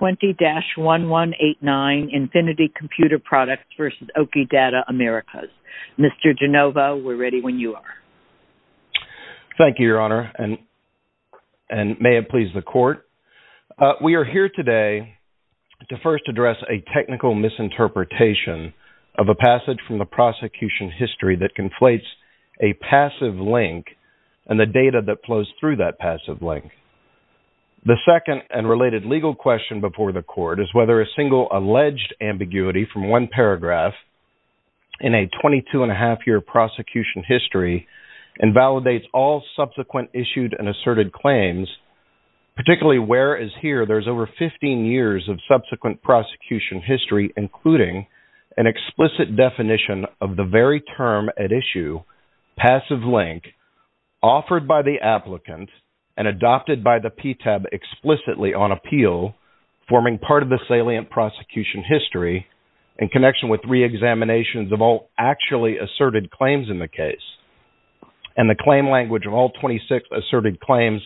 20-1189 Infinity Computer Products v. Oki Data Americas. Mr. Genova, we're ready when you are. Thank you, Your Honor, and may it please the court. We are here today to first address a technical misinterpretation of a passage from the prosecution history that conflates a passive link and the data that flows through that passive link. The second and related legal question before the court is whether a single alleged ambiguity from one paragraph in a 22-and-a-half-year prosecution history invalidates all subsequent issued and asserted claims, particularly whereas here there's over 15 years of subsequent prosecution history, including an explicit definition of the very term at issue, passive link, offered by the applicant and adopted by the PTAB explicitly on appeal, forming part of the salient prosecution history in connection with reexaminations of all actually asserted claims in the case. And the claim language of all 26 asserted claims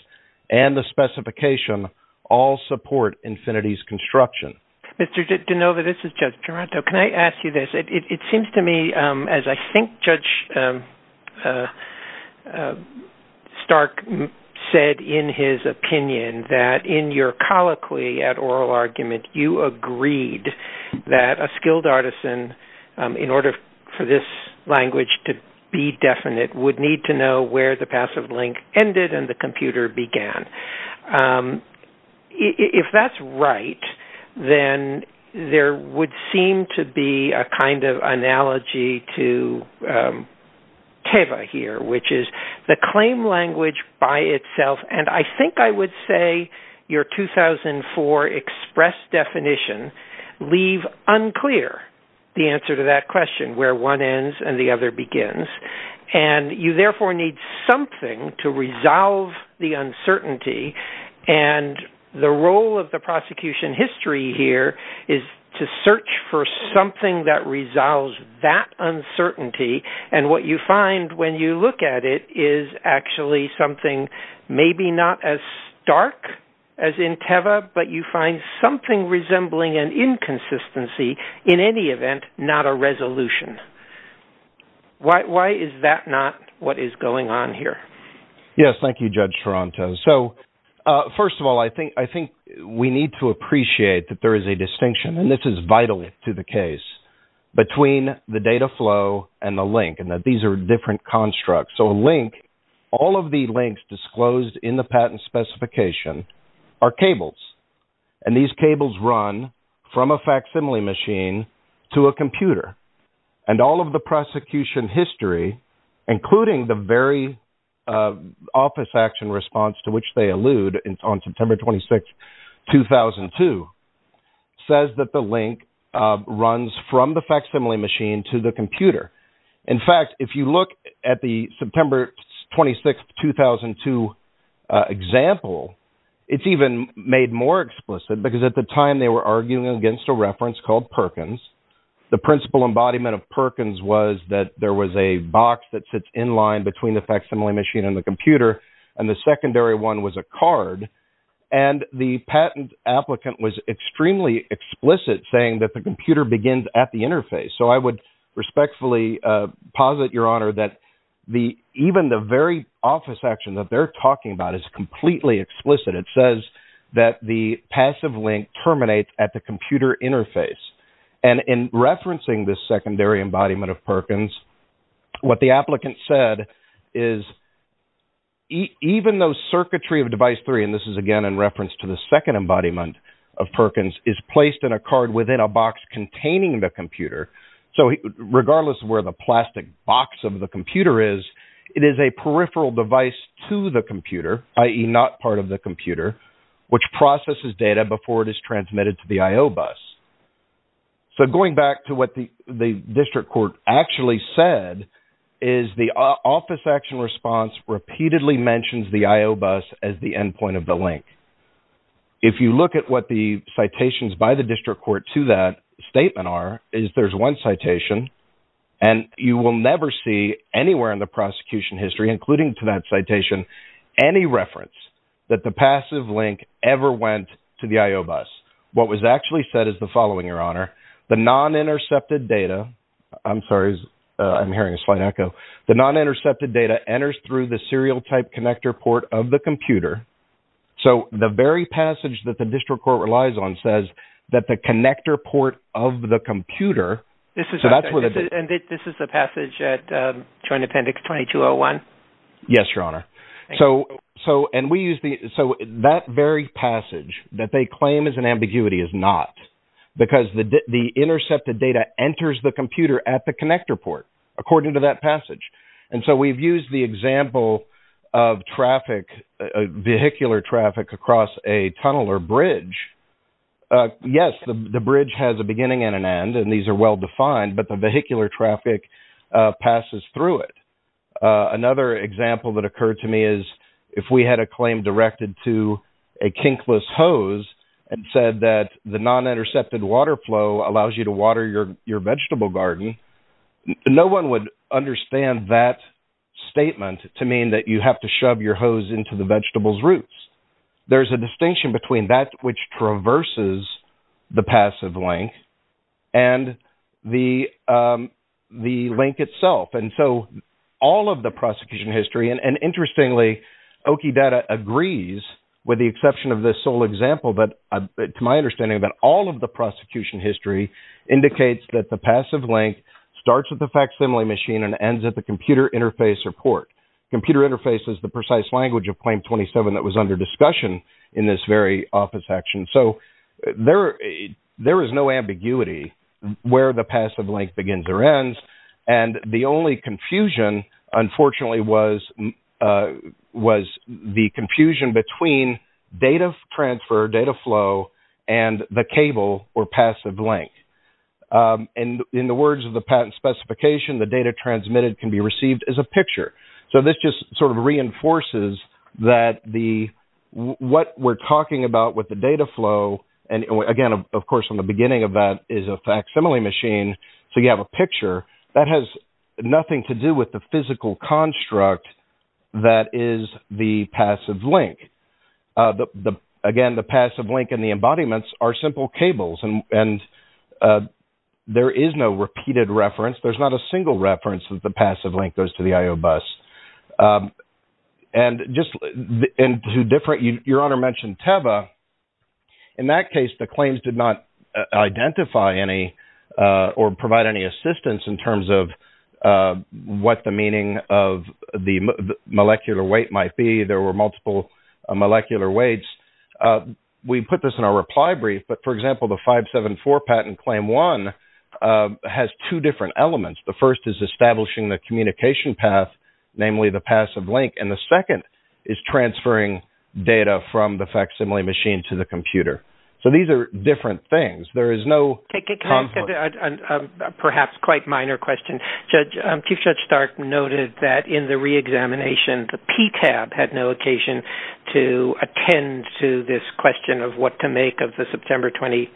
and the specification all support Infinity's construction. Mr. Genova, this is Judge Taranto. Can I ask you this? It seems to me as I think Judge Stark said in his opinion that in your colloquy at oral argument, you agreed that a skilled artisan, in order for this language to be definite, would need to know where the passive link ended and the computer began. If that's right, then there would seem to be a kind of analogy to Teva here, which is the claim language by itself, and I think I would say your 2004 express definition leave unclear the answer to that question, where one ends and the other begins. And you therefore need something to resolve the uncertainty and the role of the prosecution history here is to search for something that resolves that uncertainty and what you find when you look at it is actually something maybe not as stark as in Teva, but you find something resembling an inconsistency in any event, not a resolution. Why is that not what is going on here? Yes, thank you, Judge Taranto. So first of all, I think we need to appreciate that there is a distinction, and this is vital to the case, between the data flow and the link and that these are different constructs. So a link, all of the links disclosed in the patent specification are cables, and these cables run from a facsimile machine to a computer. And all of the prosecution history, including the very office action response to which they allude on September 26th, 2002, says that the link runs from the facsimile machine to the computer. In fact, if you look at the September 26th, 2002 example, it's even made more explicit because at the time they were arguing against a reference called Perkins, the principal embodiment of Perkins was that there was a box that sits in line between the facsimile machine and the computer, and the secondary one was a card. And the patent applicant was extremely explicit, saying that the computer begins at the interface. So I would respectfully posit, Your Honor, that even the very office action that they're talking about is completely explicit. It says that the passive link terminates at the computer interface. And in referencing this secondary embodiment of Perkins, what the applicant said is even though circuitry of device three, and this is again in reference to the second embodiment of Perkins, is placed in a card within a box containing the computer, so regardless of where the plastic box of the computer is, it is a peripheral device to the computer, i.e. not part of the computer, which processes data before it is transmitted to the IO bus. So going back to what the district court actually said, is the office action response repeatedly mentions the IO bus as the endpoint of the link. If you look at what the citations by the district court to that statement are, is there's one citation, and you will never see anywhere in the prosecution history, including to that citation, any reference that the passive link ever went to the IO bus. What was actually said is the following, Your Honor, the non-intercepted data, I'm sorry, I'm hearing a slight echo, the non-intercepted data enters through the serial type connector port of the computer. So the very passage that the district court relies on says that the connector port of the computer, so that's And this is the passage at Joint Appendix 2201? Yes, Your Honor. So that very passage that they claim is an ambiguity is not, because the intercepted data enters the computer at the connector port, according to that passage. And so we've used the example of traffic, vehicular traffic across a tunnel or bridge. Yes, the bridge has a beginning and an end, and these are well-defined, but the vehicular traffic passes through it. Another example that occurred to me is if we had a claim directed to a kinkless hose and said that the non-intercepted water flow allows you to water your vegetable garden, no one would understand that statement to mean that you have to shove your hose into the vegetable's roots. There's a distinction between that which traverses the passive link and the link itself. And so all of the prosecution history, and interestingly, Okie Data agrees with the exception of this sole example, but to my understanding, about all of the prosecution history indicates that the passive link starts with the facsimile machine and ends at the claim 27 that was under discussion in this very office action. So there is no ambiguity where the passive link begins or ends, and the only confusion, unfortunately, was the confusion between data transfer, data flow, and the cable or passive link. And in the words of the patent specification, the data transmitted can be received as a picture. So this just sort of reinforces that what we're talking about with the data flow, and again, of course, in the beginning of that is a facsimile machine, so you have a picture, that has nothing to do with the physical construct that is the passive link. Again, the passive link and the embodiments are simple cables, and there is no repeated reference. There's not a single reference that the passive link goes to the I.O. bus. And your Honor mentioned Teva. In that case, the claims did not identify any or provide any assistance in terms of what the meaning of the molecular weight might be. There were multiple molecular weights. We put this in our reply brief, but for example, the 574 patent claim one has two different elements. The first is establishing the communication path, namely the passive link, and the second is transferring data from the facsimile machine to the computer. So these are different things. There is no conflict. Can I ask a perhaps quite minor question? Chief Judge Stark noted that in the reexamination, the PTAB had no occasion to attend to this question of what to make of the September 20,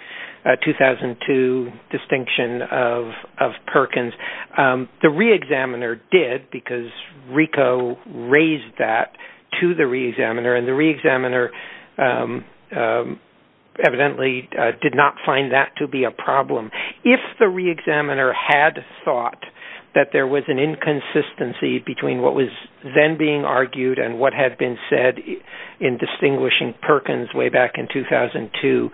2002 distinction of Perkins. The reexaminer did, because RICO raised that to the reexaminer, and the reexaminer evidently did not find that to be a problem. If the reexaminer had thought that there was an inconsistency between what was then being argued and what had been said in distinguishing Perkins way back in 2002,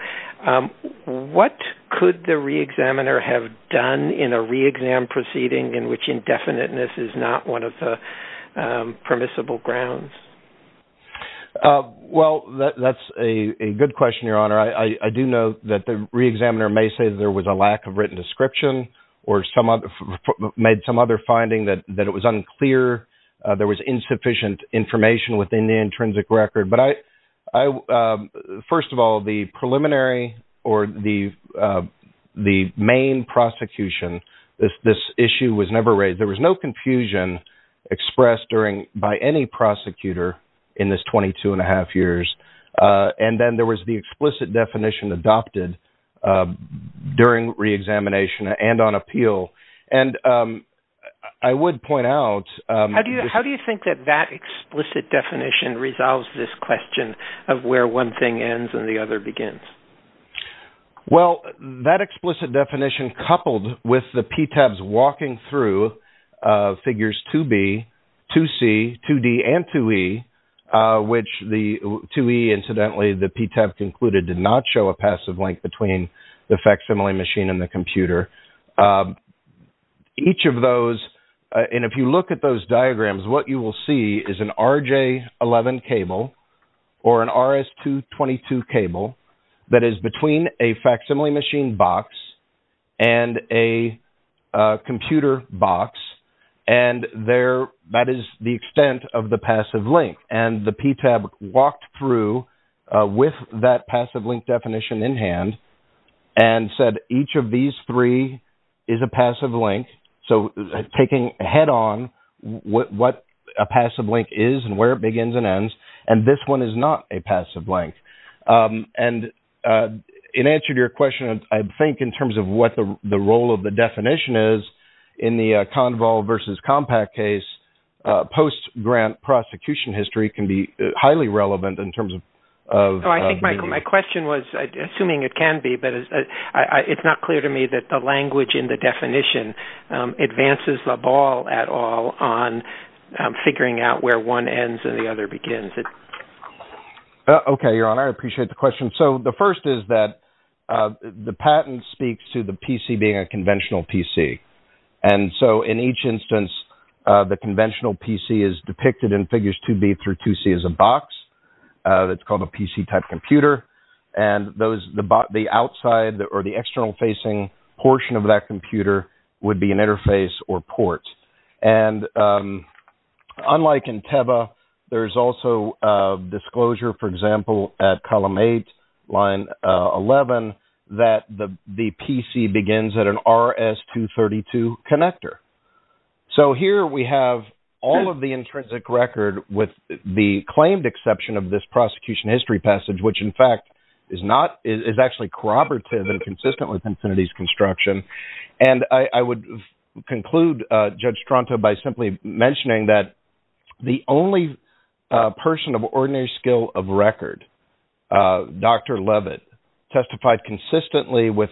what could the reexaminer have done in a reexam proceeding in which indefiniteness is not one of the permissible grounds? Well, that's a good question, Your Honor. I do know that the reexaminer may say that there was a lack of written description or made some other finding that it was unclear, there was insufficient information within the intrinsic record. But I, first of all, the preliminary or the main prosecution, this issue was never raised. There was no confusion expressed during, by any prosecutor in this 22 and a half years. And then there was the explicit definition adopted during reexamination and on appeal. And I would point out that How do you think that that explicit definition resolves this question of where one thing ends and the other begins? Well, that explicit definition coupled with the PTABs walking through figures 2B, 2C, 2D, and 2E, which the 2E, incidentally, the PTAB concluded did not show a passive link between the facsimile machine and the computer. Each of those, and if you look at those diagrams what you will see is an RJ11 cable or an RS222 cable that is between a facsimile machine box and a computer box. And that is the extent of the passive link. And the PTAB walked through with that passive link definition in hand and said, each of these three is a passive link. So taking head on what a passive link is and where it begins and ends, and this one is not a passive link. And in answer to your question, I think in terms of what the role of the definition is in the Conval versus Compact case, post-grant prosecution history can be highly relevant in terms of Oh, I think my question was, assuming it can be, but it's not clear to me that the language in the definition advances the ball at all on figuring out where one ends and the other begins. Okay, Your Honor, I appreciate the question. So the first is that the patent speaks to the PC being a conventional PC. And so in each instance, the conventional PC is depicted in figures 2B through 2C as a box that's called a PC-type computer. And the outside or the inside of that computer would be an interface or port. And unlike in TEBA, there's also a disclosure, for example, at Column 8, Line 11, that the PC begins at an RS-232 connector. So here we have all of the intrinsic record with the claimed exception of this prosecution history passage, which in fact is not, is actually corroborative and consistent with And I would conclude, Judge Stronto, by simply mentioning that the only person of ordinary skill of record, Dr. Levitt, testified consistently with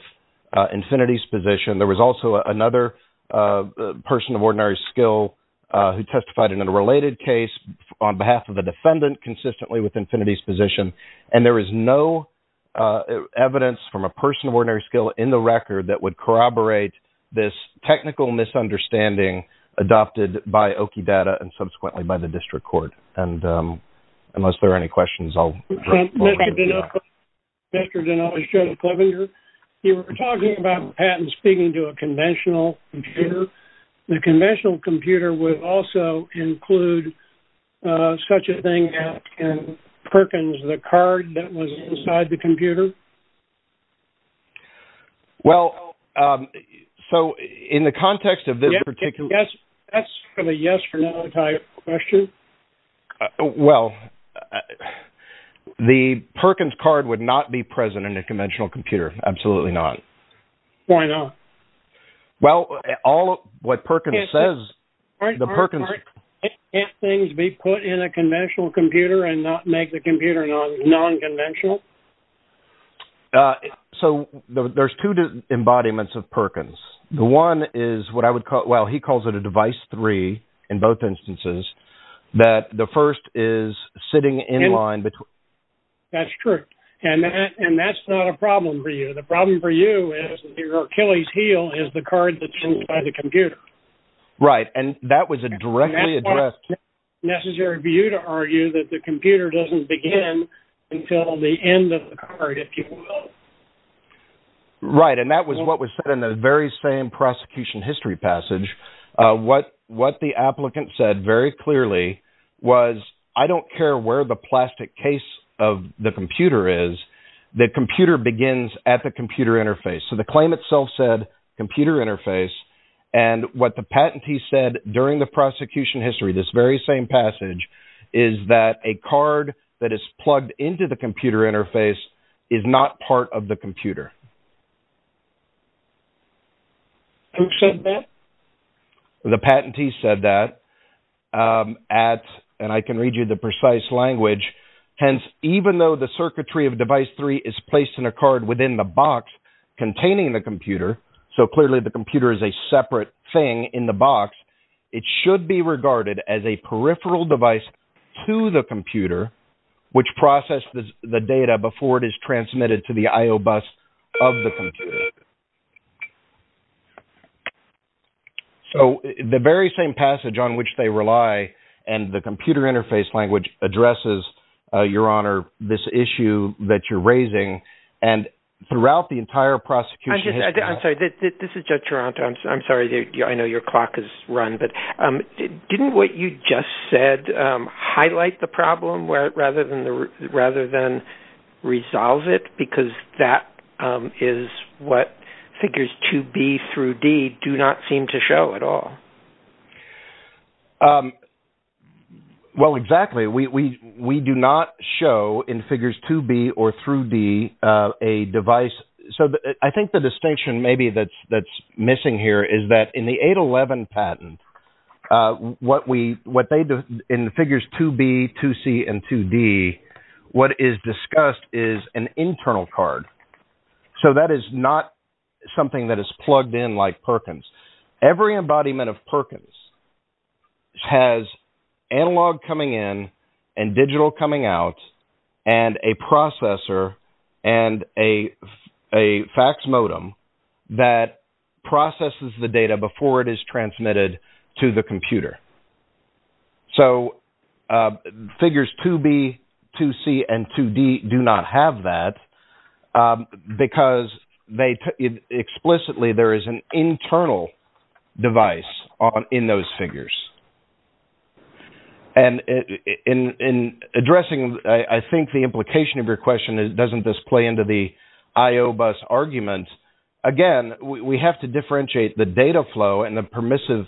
Infiniti's position. There was also another person of ordinary skill who testified in a related case on behalf of the defendant consistently with Infiniti's position. And there is no evidence from a person of ordinary skill in the record that would corroborate this technical misunderstanding adopted by OKI Data and subsequently by the District Court. And unless there are any questions, I'll... Mr. Deneau, Judge Clevenger, you were talking about patents speaking to a conventional computer. The conventional computer would also include such a thing as in Perkins, the card that was inside the computer? Well, so in the context of this particular... That's a yes or no type question. Well, the Perkins card would not be present in a conventional computer. Absolutely not. Why not? Well, all of what Perkins says, the Perkins... Can't things be put in a conventional computer and not make the computer non-conventional? So, there's two embodiments of Perkins. The one is what I would call, well, he calls it a device three in both instances, that the first is sitting in line between... That's true. And that's not a problem for you. The problem for you is your Achilles heel is the card that's inside the computer. Right. And that was a directly addressed... Necessary for you to argue that the computer doesn't begin until the end of the card, if you will. Right. And that was what was said in the very same prosecution history passage. What the applicant said very clearly was, I don't care where the plastic case of the computer is, the computer begins at the computer interface. So, the claim itself said computer interface. And what the patentee said during the prosecution history, this very same passage, is that a card that is plugged into the computer interface is not part of the computer. Who said that? The patentee said that at, and I can read you the precise language, hence, even though the circuitry of device three is placed in a card within the box containing the computer. So, clearly, the computer is a separate thing in the box. It should be regarded as a peripheral device to the computer, which process the data before it is transmitted to the I.O. bus of the computer. So, the very same passage on which they rely and the computer interface language addresses, Your Honor, this issue that you're raising and throughout the entire prosecution... I'm sorry. This is Judge Taranto. I'm sorry. I know your clock is run, but didn't what you just said highlight the problem rather than resolve it? Because that is what figures 2B through D do not seem to show at all. Well, exactly. We do not show in figures 2B or through D a device. So, I think the distinction maybe that's missing here is that in the 811 patent, what they do in the figures 2B, 2C, and 2D, what is discussed is an internal card. So, that is not something that is plugged in like Perkins. Every embodiment of Perkins has analog coming in and digital coming out and a processor and a fax modem that processes the data before it is transmitted to the computer. So, figures 2B, 2C, and 2D do not have that because they... Explicitly, there is an internal device in those figures. And in addressing, I think the implication of your question doesn't display into the IOBUS argument. Again, we have to differentiate the data flow and the permissive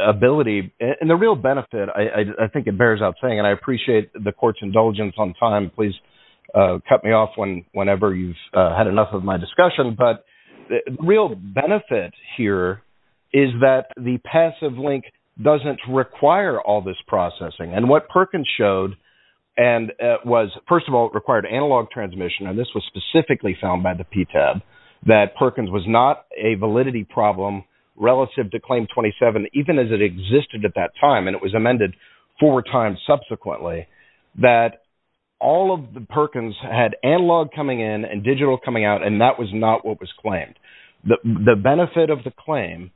ability. And the real benefit, I think it bears out saying, and I appreciate the court's indulgence on time. So, please cut me off whenever you've had enough of my discussion. But the real benefit here is that the passive link doesn't require all this processing. And what Perkins showed, and it was... First of all, it required analog transmission, and this was specifically found by the PTAB, that Perkins was not a validity problem relative to Claim 27, even as it existed at that time. And it was amended four times subsequently. That all of the Perkins had analog coming in and digital coming out, and that was not what was claimed. The benefit of the claim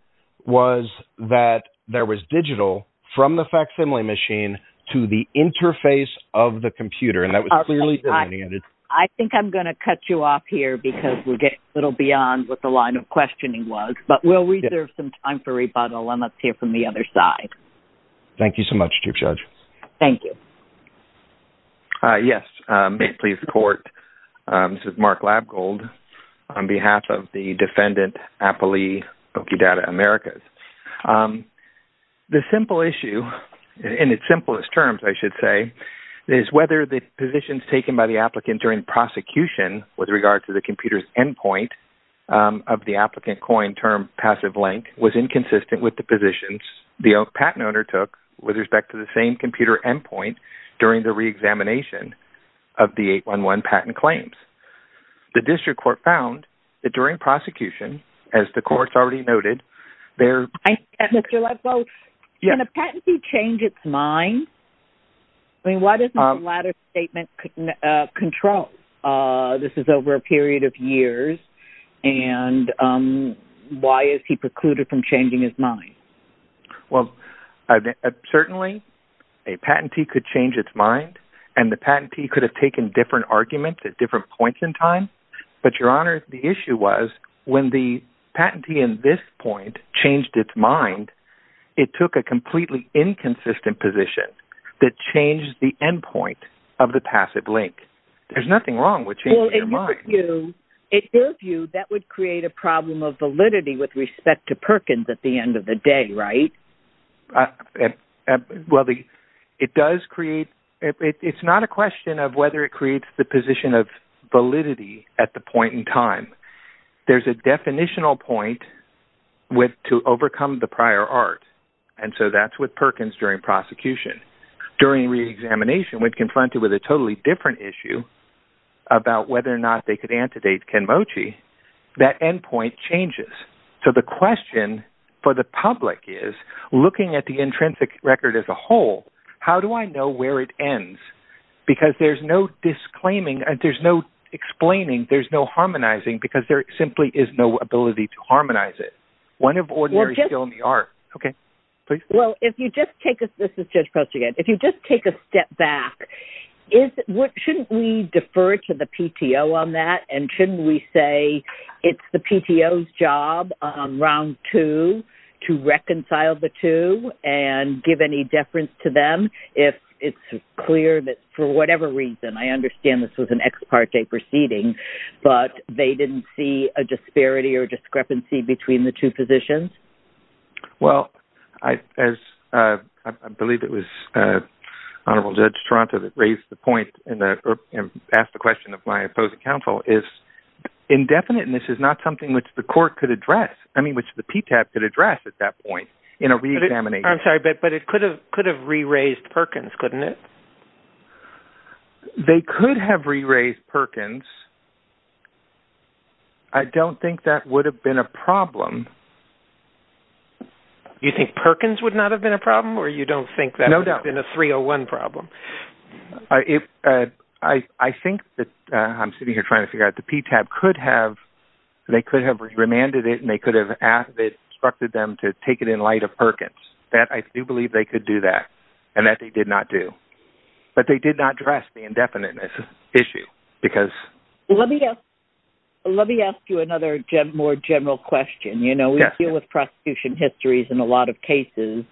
was that there was digital from the facsimile machine to the interface of the computer. And that was clearly delineated. I think I'm going to cut you off here because we're getting a little beyond what the line of questioning was. But we'll reserve some time for rebuttal, and let's hear from the other side. Thank you so much, Chief Judge. Thank you. Yes. May it please the court. This is Mark Labgold on behalf of the defendant, Appley Okedata Americas. The simple issue, in its simplest terms, I should say, is whether the positions taken by the applicant during prosecution with regard to the computer's endpoint of the applicant coined term passive link was inconsistent with the positions the patent owner took with respect to the same computer endpoint during the reexamination of the 811 patent claims. The district court found that during prosecution, as the court's already noted, there- Mr. Labgold, can a patentee change its mind? I mean, why doesn't the latter statement control? This is over a period of years, and why is he precluded from changing his mind? Well, certainly a patentee could change its mind, and the patentee could have taken different arguments at different points in time. But, Your Honor, the issue was when the patentee in this point changed its mind, it took a completely inconsistent position that changed the endpoint of the passive link. There's nothing wrong with changing your mind. Well, in your view, that would create a problem of validity with respect to Perkins at the end of the day, right? Well, it does create- It's not a question of whether it creates the position of validity at the point in time. There's a definitional point to overcome the prior art, and so that's with Perkins during prosecution. During reexamination, we're confronted with a totally different issue about whether or not they could antedate Ken Mochi. That endpoint changes. So the question for the public is, looking at the intrinsic record as a whole, how do I know where it ends? Because there's no disclaiming, there's no explaining, there's no harmonizing, because there simply is no ability to harmonize it. One of ordinary skill in the art. Okay, please. Well, if you just take a- This is Judge Post again. If you just take a step back, shouldn't we defer to the PTO on that, and shouldn't we say it's the PTO's job on round two to reconcile the two and give any deference to them if it's clear that, for whatever reason, I understand this was an ex parte proceeding, but they didn't see a disparity or discrepancy between the two positions? Well, as I believe it was Honorable Judge Toronto that raised the point and asked the question of my opposing counsel, is indefiniteness is not something which the court could address, I mean which the PTAP could address at that point in a reexamination. I'm sorry, but it could have re-raised Perkins, couldn't it? They could have re-raised Perkins. I don't think that would have been a problem. You think Perkins would not have been a problem, or you don't think that would have been a 301 problem? I think that, I'm sitting here trying to figure out, the PTAP could have, they could have remanded it, and they could have instructed them to take it in light of Perkins. I do believe they could do that, and that they did not do. But they did not address the indefiniteness issue. Let me ask you another more general question. We deal with prosecution histories in a lot of cases,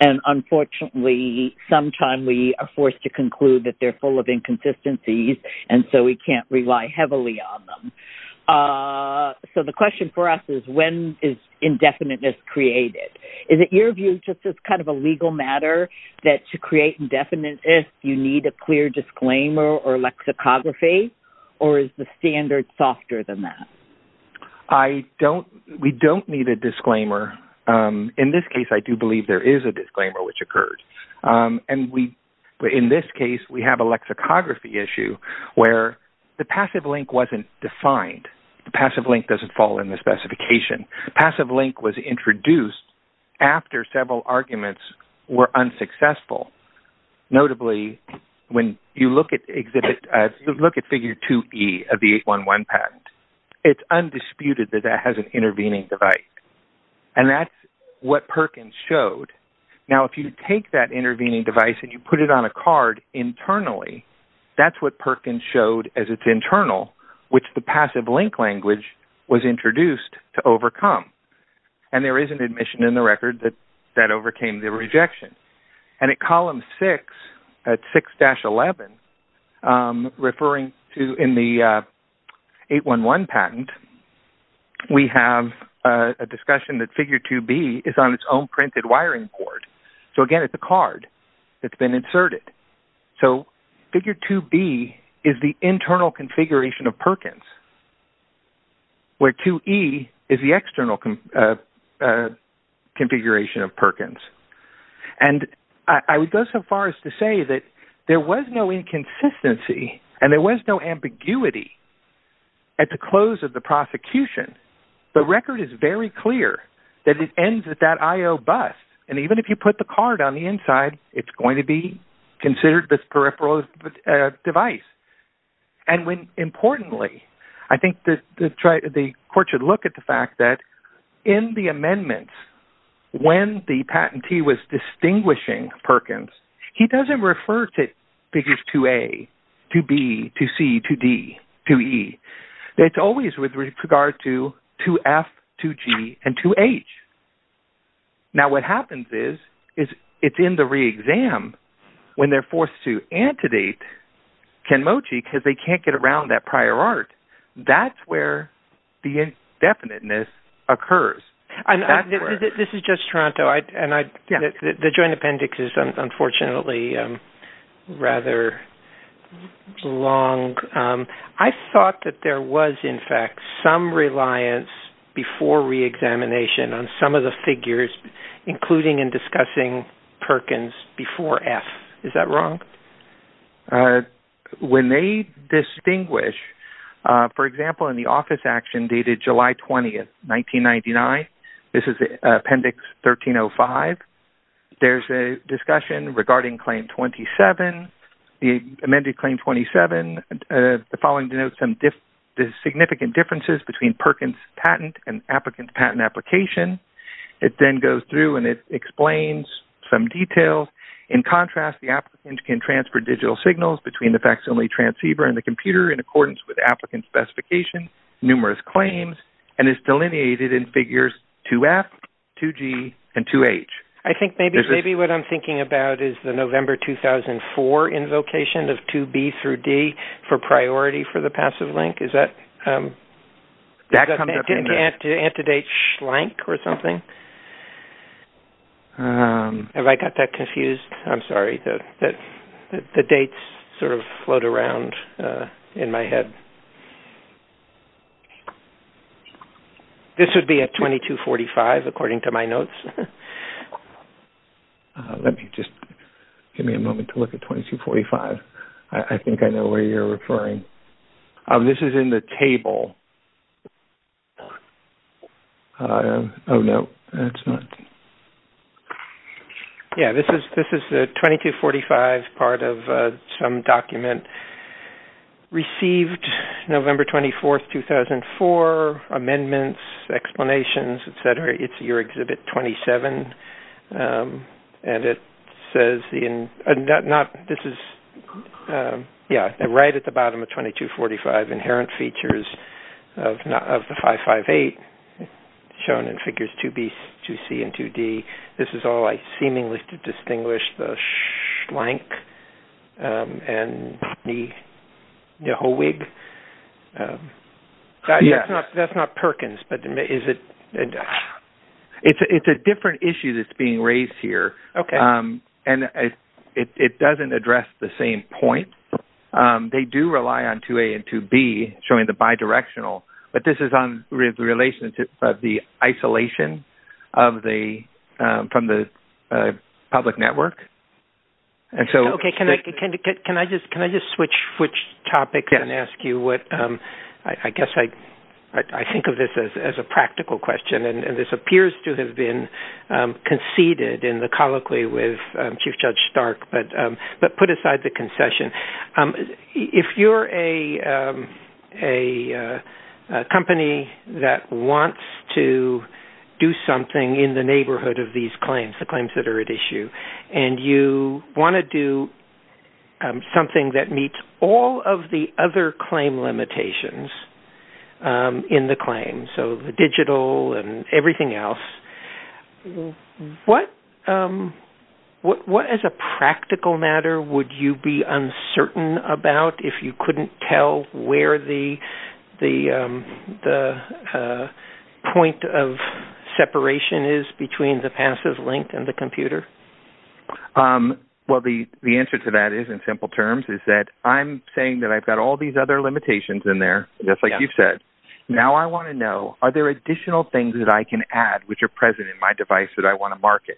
and unfortunately sometimes we are forced to conclude that they're full of inconsistencies, and so we can't rely heavily on them. So the question for us is, when is indefiniteness created? Is it your view, just as kind of a legal matter, that to create indefiniteness you need a clear disclaimer or lexicography, or is the standard softer than that? We don't need a disclaimer. In this case, I do believe there is a disclaimer which occurred. In this case, we have a lexicography issue where the passive link wasn't defined. The passive link doesn't fall in the specification. The passive link was introduced after several arguments were unsuccessful. Notably, when you look at figure 2E of the 811 patent, it's undisputed that that has an intervening right. And that's what Perkins showed. Now, if you take that intervening device and you put it on a card internally, that's what Perkins showed as its internal, which the passive link language was introduced to overcome. And there is an admission in the record that that overcame the rejection. And at column 6, at 6-11, referring to in the 811 patent, we have a discussion that figure 2B is on its own printed wiring cord. So again, it's a card that's been inserted. So figure 2B is the internal configuration of Perkins, where 2E is the external configuration of Perkins. And I would go so far as to say that there was no inconsistency and there was no ambiguity at the close of the prosecution. The record is very clear that it ends at that I.O. bus, and even if you put the card on the inside, it's going to be considered this peripheral device. And importantly, I think the court should look at the fact that in the amendments, when the patentee was distinguishing Perkins, he doesn't refer to figures 2A, 2B, 2C, 2D, 2E. It's always with regard to 2F, 2G, and 2H. Now, what happens is it's in the re-exam when they're forced to antedate Kenmochi because they can't get around that prior art. That's where the indefiniteness occurs. This is just Toronto, and the joint appendix is unfortunately rather long. I thought that there was, in fact, some reliance before re-examination on some of the figures, including in discussing Perkins before F. Is that wrong? When they distinguish, for example, in the office action dated July 20, 1999, this is Appendix 1305, there's a discussion regarding Claim 27. The amended Claim 27, the following denotes the significant differences between Perkins' patent and the applicant's patent application. It then goes through and it explains some details. In contrast, the applicant can transfer digital signals between the vaccine-only transceiver and the computer in accordance with the applicant's specification, numerous claims, and is delineated in figures 2F, 2G, and 2H. I think maybe what I'm thinking about is the November 2004 invocation of 2B through D for priority for the passive link. Is that an antedate shlank or something? Have I got that confused? I'm sorry. The dates sort of float around in my head. Let me just give me a moment to look at 2245. I think I know where you're referring. This is in the table. Oh, no, that's not. Yes, this is the 2245 part of some document received November 24, 2004, amendments, explanations, et cetera. It's your Exhibit 27, and it says right at the bottom of 2245, inherent features of the 558 shown in figures 2B, 2C, and 2D. This is all I seemingly could distinguish, the shlank and the whole wig. That's not Perkins, but is it? It's a different issue that's being raised here, and it doesn't address the same point. They do rely on 2A and 2B showing the bidirectional, but this is in relation to the isolation from the public network. Okay, can I just switch topics and ask you what? I guess I think of this as a practical question, and this appears to have been conceded in the colloquy with Chief Judge Stark, but put aside the concession. If you're a company that wants to do something in the neighborhood of these claims, the claims that are at issue, and you want to do something that meets all of the other claim limitations in the claim, so the digital and everything else, what as a practical matter would you be uncertain about if you couldn't tell where the point of separation is between the passive link and the computer? Well, the answer to that is, in simple terms, is that I'm saying that I've got all these other limitations in there, just like you've said. Now I want to know, are there additional things that I can add which are present in my device that I want to market?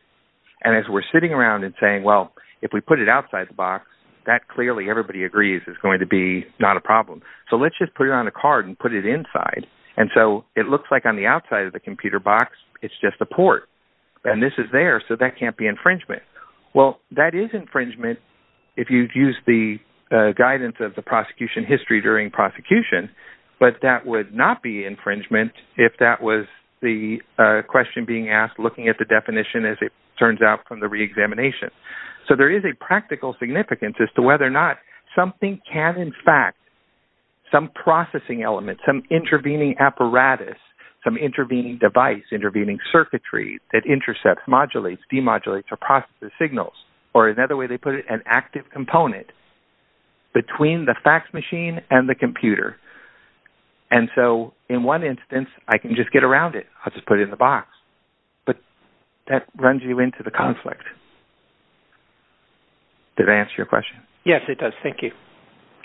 And as we're sitting around and saying, well, if we put it outside the box, that clearly everybody agrees is going to be not a problem. So let's just put it on a card and put it inside. And so it looks like on the outside of the computer box it's just a port, and this is there, so that can't be infringement. Well, that is infringement if you use the guidance of the prosecution history during prosecution, but that would not be infringement if that was the question being asked looking at the definition, as it turns out from the reexamination. So there is a practical significance as to whether or not something can, in fact, some processing element, some intervening apparatus, some intervening device, intervening circuitry that intercepts, modulates, demodulates, or processes signals. Or another way they put it, an active component between the fax machine and the computer. And so in one instance I can just get around it. I'll just put it in the box. But that runs you into the conflict. Did that answer your question? Yes, it does. Thank you.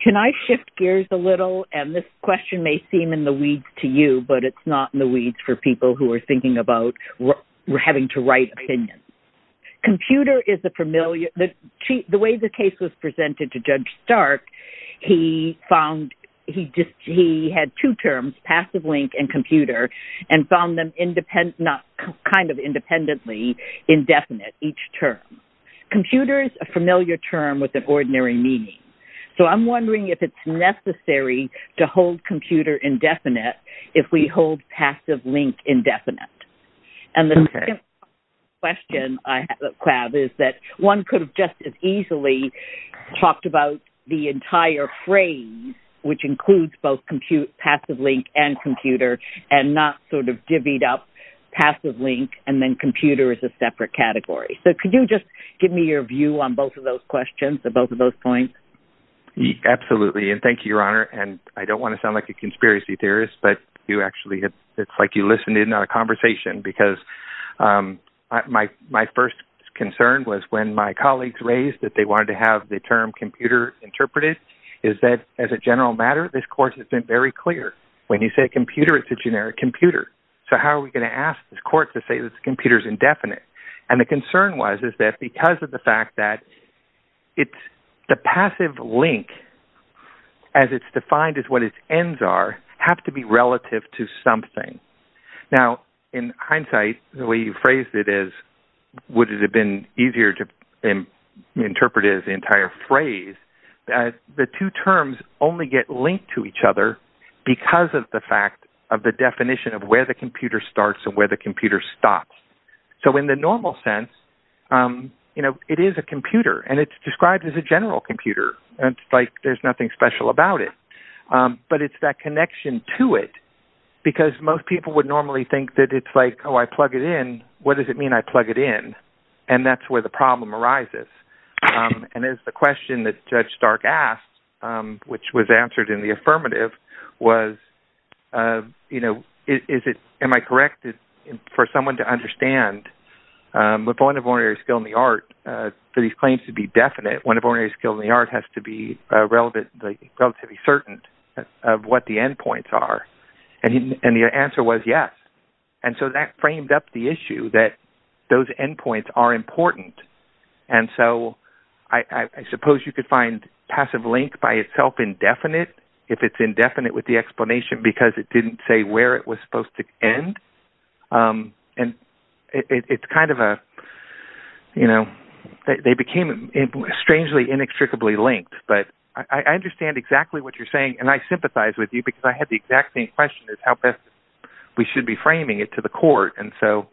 Can I shift gears a little? And this question may seem in the weeds to you, but it's not in the weeds for people who are thinking about having to write opinions. The way the case was presented to Judge Stark, he had two terms, passive link and computer, and found them kind of independently indefinite, each term. Computer is a familiar term with an ordinary meaning. So I'm wondering if it's necessary to hold computer indefinite if we hold passive link indefinite. And the second question I have is that one could have just as easily talked about the entire phrase, which includes both passive link and computer, and not sort of divvied up passive link and then computer as a separate category. So could you just give me your view on both of those questions, on both of those points? Absolutely. And thank you, Your Honor. And I don't want to sound like a conspiracy theorist, but it's like you listened in on a conversation. Because my first concern was when my colleagues raised that they wanted to have the term computer interpreted, is that as a general matter this Court has been very clear. When you say computer, it's a generic computer. So how are we going to ask this Court to say that the computer is indefinite? And the concern was is that because of the fact that the passive link, as it's defined as what its ends are, have to be relative to something. Now, in hindsight, the way you phrased it is, would it have been easier to interpret it as the entire phrase, the two terms only get linked to each other because of the fact of the definition of where the computer starts and where the computer stops. So in the normal sense, it is a computer, and it's described as a general computer. It's like there's nothing special about it. But it's that connection to it, because most people would normally think that it's like, oh, I plug it in. What does it mean I plug it in? And that's where the problem arises. And it's the question that Judge Stark asked, which was answered in the affirmative, was, you know, am I correct for someone to understand, the point of ordinary skill in the art, for these claims to be definite, one of ordinary skill in the art has to be relatively certain of what the endpoints are. And the answer was yes. And so that framed up the issue that those endpoints are important. And so I suppose you could find passive link by itself indefinite, if it's indefinite with the explanation, because it didn't say where it was supposed to end. And it's kind of a, you know, they became strangely inextricably linked. But I understand exactly what you're saying. And I sympathize with you, because I had the exact same question as how best we should be framing it to the court. And so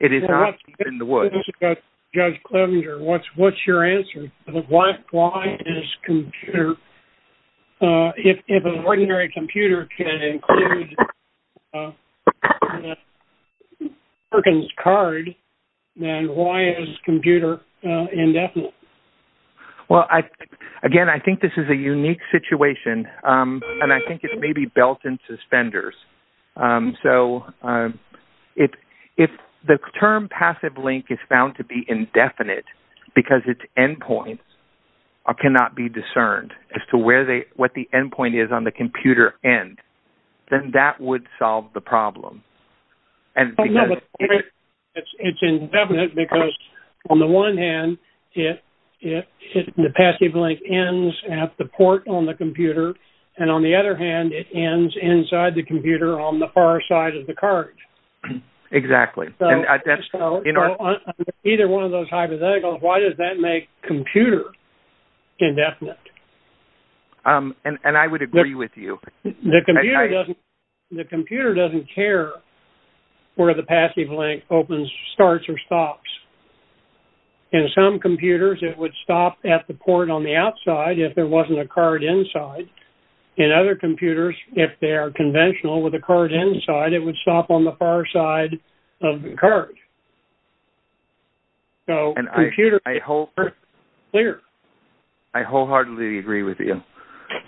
it is not in the woods. Judge Clevenger, what's your answer? Why is computer, if an ordinary computer can include Perkins card, then why is computer indefinite? Well, again, I think this is a unique situation. And I think it may be belt and suspenders. So if the term passive link is found to be indefinite, because its endpoints cannot be discerned as to what the endpoint is on the computer end, then that would solve the problem. It's indefinite, because on the one hand, the passive link ends at the port on the computer. And on the other hand, it ends inside the computer on the far side of the card. Exactly. Either one of those hypotheticals, why does that make computer indefinite? And I would agree with you. The computer doesn't care where the passive link opens, starts, or stops. In some computers, it would stop at the port on the outside if there wasn't a card inside. In other computers, if they are conventional with a card inside, it would stop on the far side of the card. And I wholeheartedly agree with you.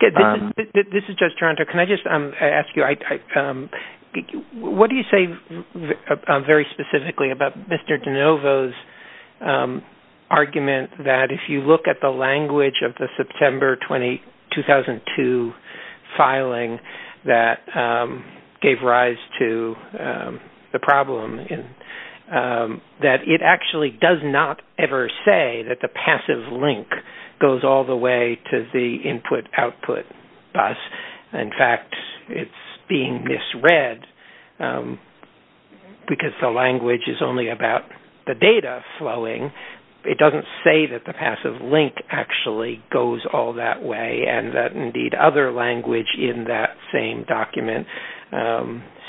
This is Judge Toronto. Can I just ask you, what do you say very specifically about Mr. DeNovo's argument that if you look at the language of the September 2002 filing that gave rise to the problem, that it actually does not ever say that the passive link goes all the way to the input-output bus. In fact, it's being misread, because the language is only about the data flowing. It doesn't say that the passive link actually goes all that way and that indeed other language in that same document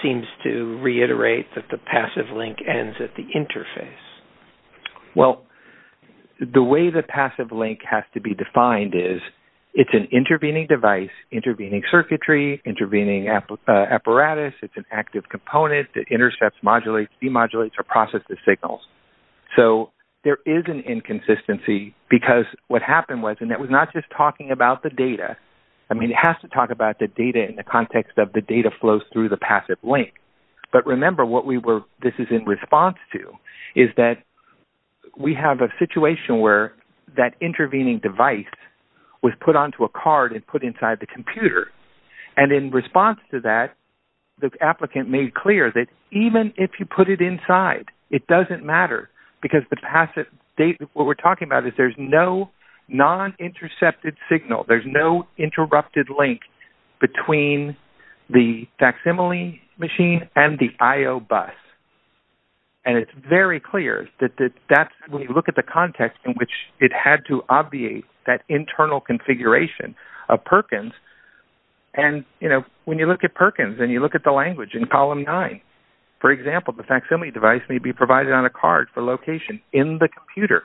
seems to reiterate that the passive link ends at the interface. Well, the way the passive link has to be defined is it's an intervening device, intervening circuitry, intervening apparatus. It's an active component that intercepts, modulates, demodulates, or processes signals. So there is an inconsistency because what happened was, and that was not just talking about the data. I mean, it has to talk about the data in the context of the data flows through the passive link. But remember what this is in response to is that we have a situation where that intervening device was put onto a card and put inside the computer. And in response to that, the applicant made clear that even if you put it inside, it doesn't matter because the passive data, what we're talking about is there's no non-intercepted signal. There's no interrupted link between the facsimile machine and the IO bus. And it's very clear that that's when you look at the context in which it had to obviate that internal configuration of Perkins. And when you look at Perkins and you look at the language in column nine, for example, the facsimile device may be provided on a card for location in the computer.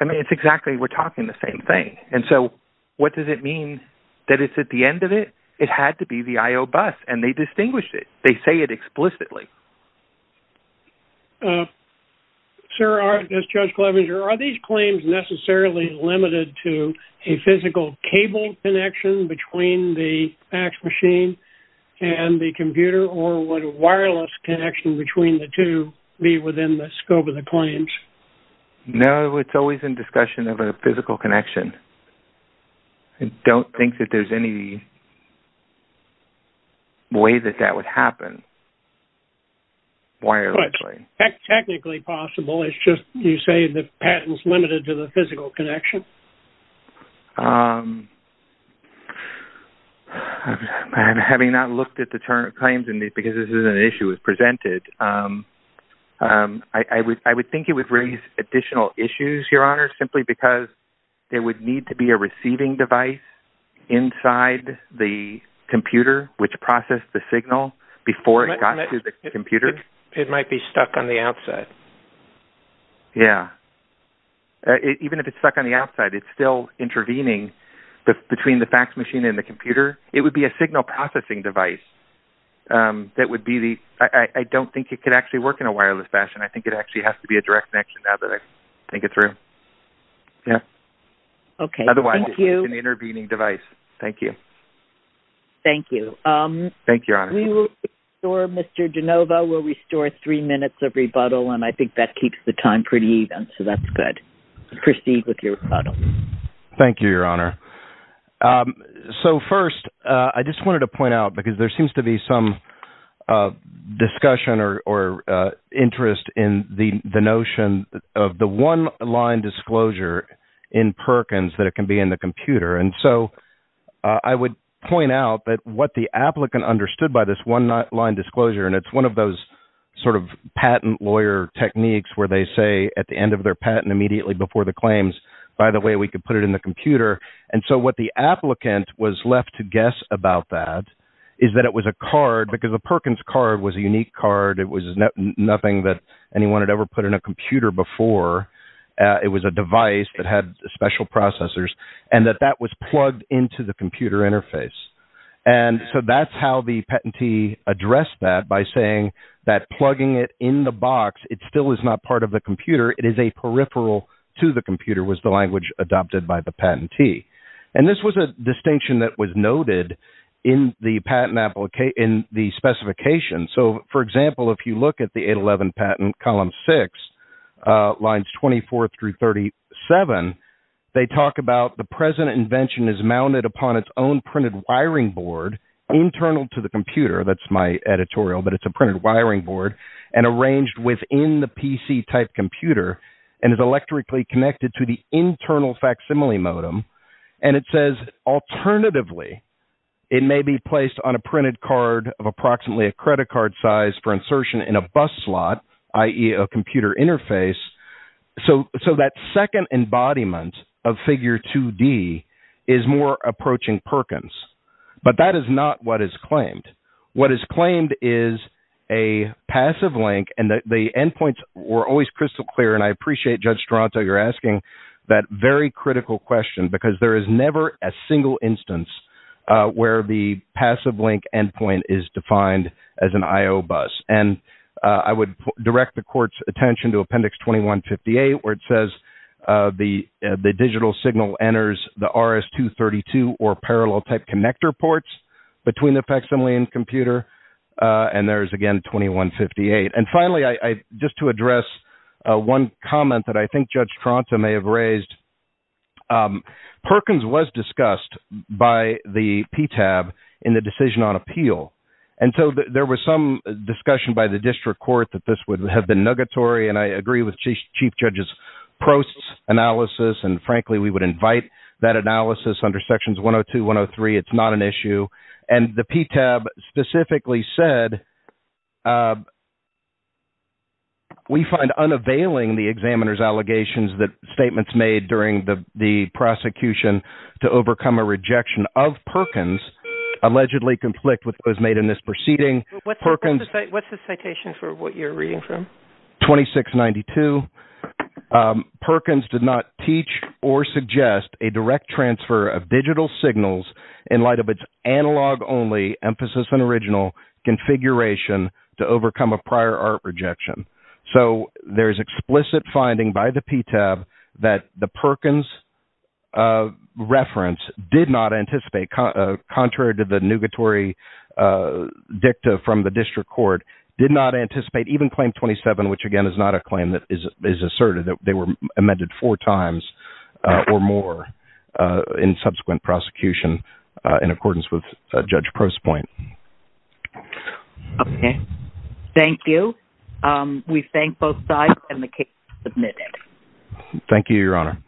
I mean, it's exactly, we're talking the same thing. And so what does it mean that it's at the end of it? It had to be the IO bus, and they distinguished it. They say it explicitly. Sir, as Judge Clevenger, are these claims necessarily limited to a physical cable connection between the fax machine and the computer or would a wireless connection between the two be within the scope of the claims? No, it's always in discussion of a physical connection. I don't think that there's any way that that would happen wirelessly. Technically possible, it's just you say the patent's limited to the physical connection. So, having not looked at the claims because this is an issue as presented, I would think it would raise additional issues, Your Honor, simply because there would need to be a receiving device inside the computer which processed the signal before it got to the computer. It might be stuck on the outside. Yeah. Even if it's stuck on the outside, it's still intervening between the fax machine and the computer. It would be a signal processing device. I don't think it could actually work in a wireless fashion. I think it actually has to be a direct connection now that I think it through. Otherwise, it's an intervening device. Thank you. Thank you. Thank you, Your Honor. We will restore, Mr. Genova, we'll restore three minutes of rebuttal, and I think that keeps the time pretty even, so that's good. Proceed with your rebuttal. Thank you, Your Honor. So, first, I just wanted to point out because there seems to be some discussion or interest in the notion of the one-line disclosure in Perkins that it can be in the computer. And so I would point out that what the applicant understood by this one-line disclosure, and it's one of those sort of patent lawyer techniques where they say at the end of their patent, immediately before the claims, by the way, we could put it in the computer. And so what the applicant was left to guess about that is that it was a card, because a Perkins card was a unique card. It was nothing that anyone had ever put in a computer before. It was a device that had special processors. And that that was plugged into the computer interface. And so that's how the patentee addressed that by saying that plugging it in the box, it still is not part of the computer. It is a peripheral to the computer was the language adopted by the patentee. And this was a distinction that was noted in the patent application, in the specification. So, for example, if you look at the 811 patent, column 6, lines 24 through 37, they talk about the present invention is mounted upon its own printed wiring board internal to the computer. That's my editorial, but it's a printed wiring board and arranged within the PC-type computer and is electrically connected to the internal facsimile modem. And it says, alternatively, it may be placed on a printed card of approximately a credit card size for insertion in a bus slot, i.e. a computer interface. So that second embodiment of figure 2D is more approaching Perkins. But that is not what is claimed. What is claimed is a passive link and that the endpoints were always crystal clear. And I appreciate, Judge Toronto, you're asking that very critical question because there is never a single instance where the passive link endpoint is defined as an I.O. bus. And I would direct the court's attention to Appendix 2158 where it says the digital signal enters the RS-232 or parallel-type connector ports between the facsimile and computer. And there is, again, 2158. And finally, just to address one comment that I think Judge Toronto may have raised, Perkins was discussed by the PTAB in the decision on appeal. And so there was some discussion by the district court that this would have been negatory. And I agree with Chief Judge Prost's analysis. And, frankly, we would invite that analysis under Sections 102, 103. It's not an issue. And the PTAB specifically said, we find unavailing the examiner's allegations that statements made during the prosecution to overcome a rejection of Perkins allegedly conflict with what was made in this proceeding. What's the citation for what you're reading from? 2692. Perkins did not teach or suggest a direct transfer of digital signals in light of its analog-only emphasis on original configuration to overcome a prior art rejection. So there is explicit finding by the PTAB that the Perkins reference did not anticipate, contrary to the negatory dicta from the district court, did not anticipate even Claim 27, which, again, is not a claim that is asserted. They were amended four times or more in subsequent prosecution in accordance with Judge Prost's point. Okay. Thank you. We thank both sides and the case is submitted. Thank you, Your Honor.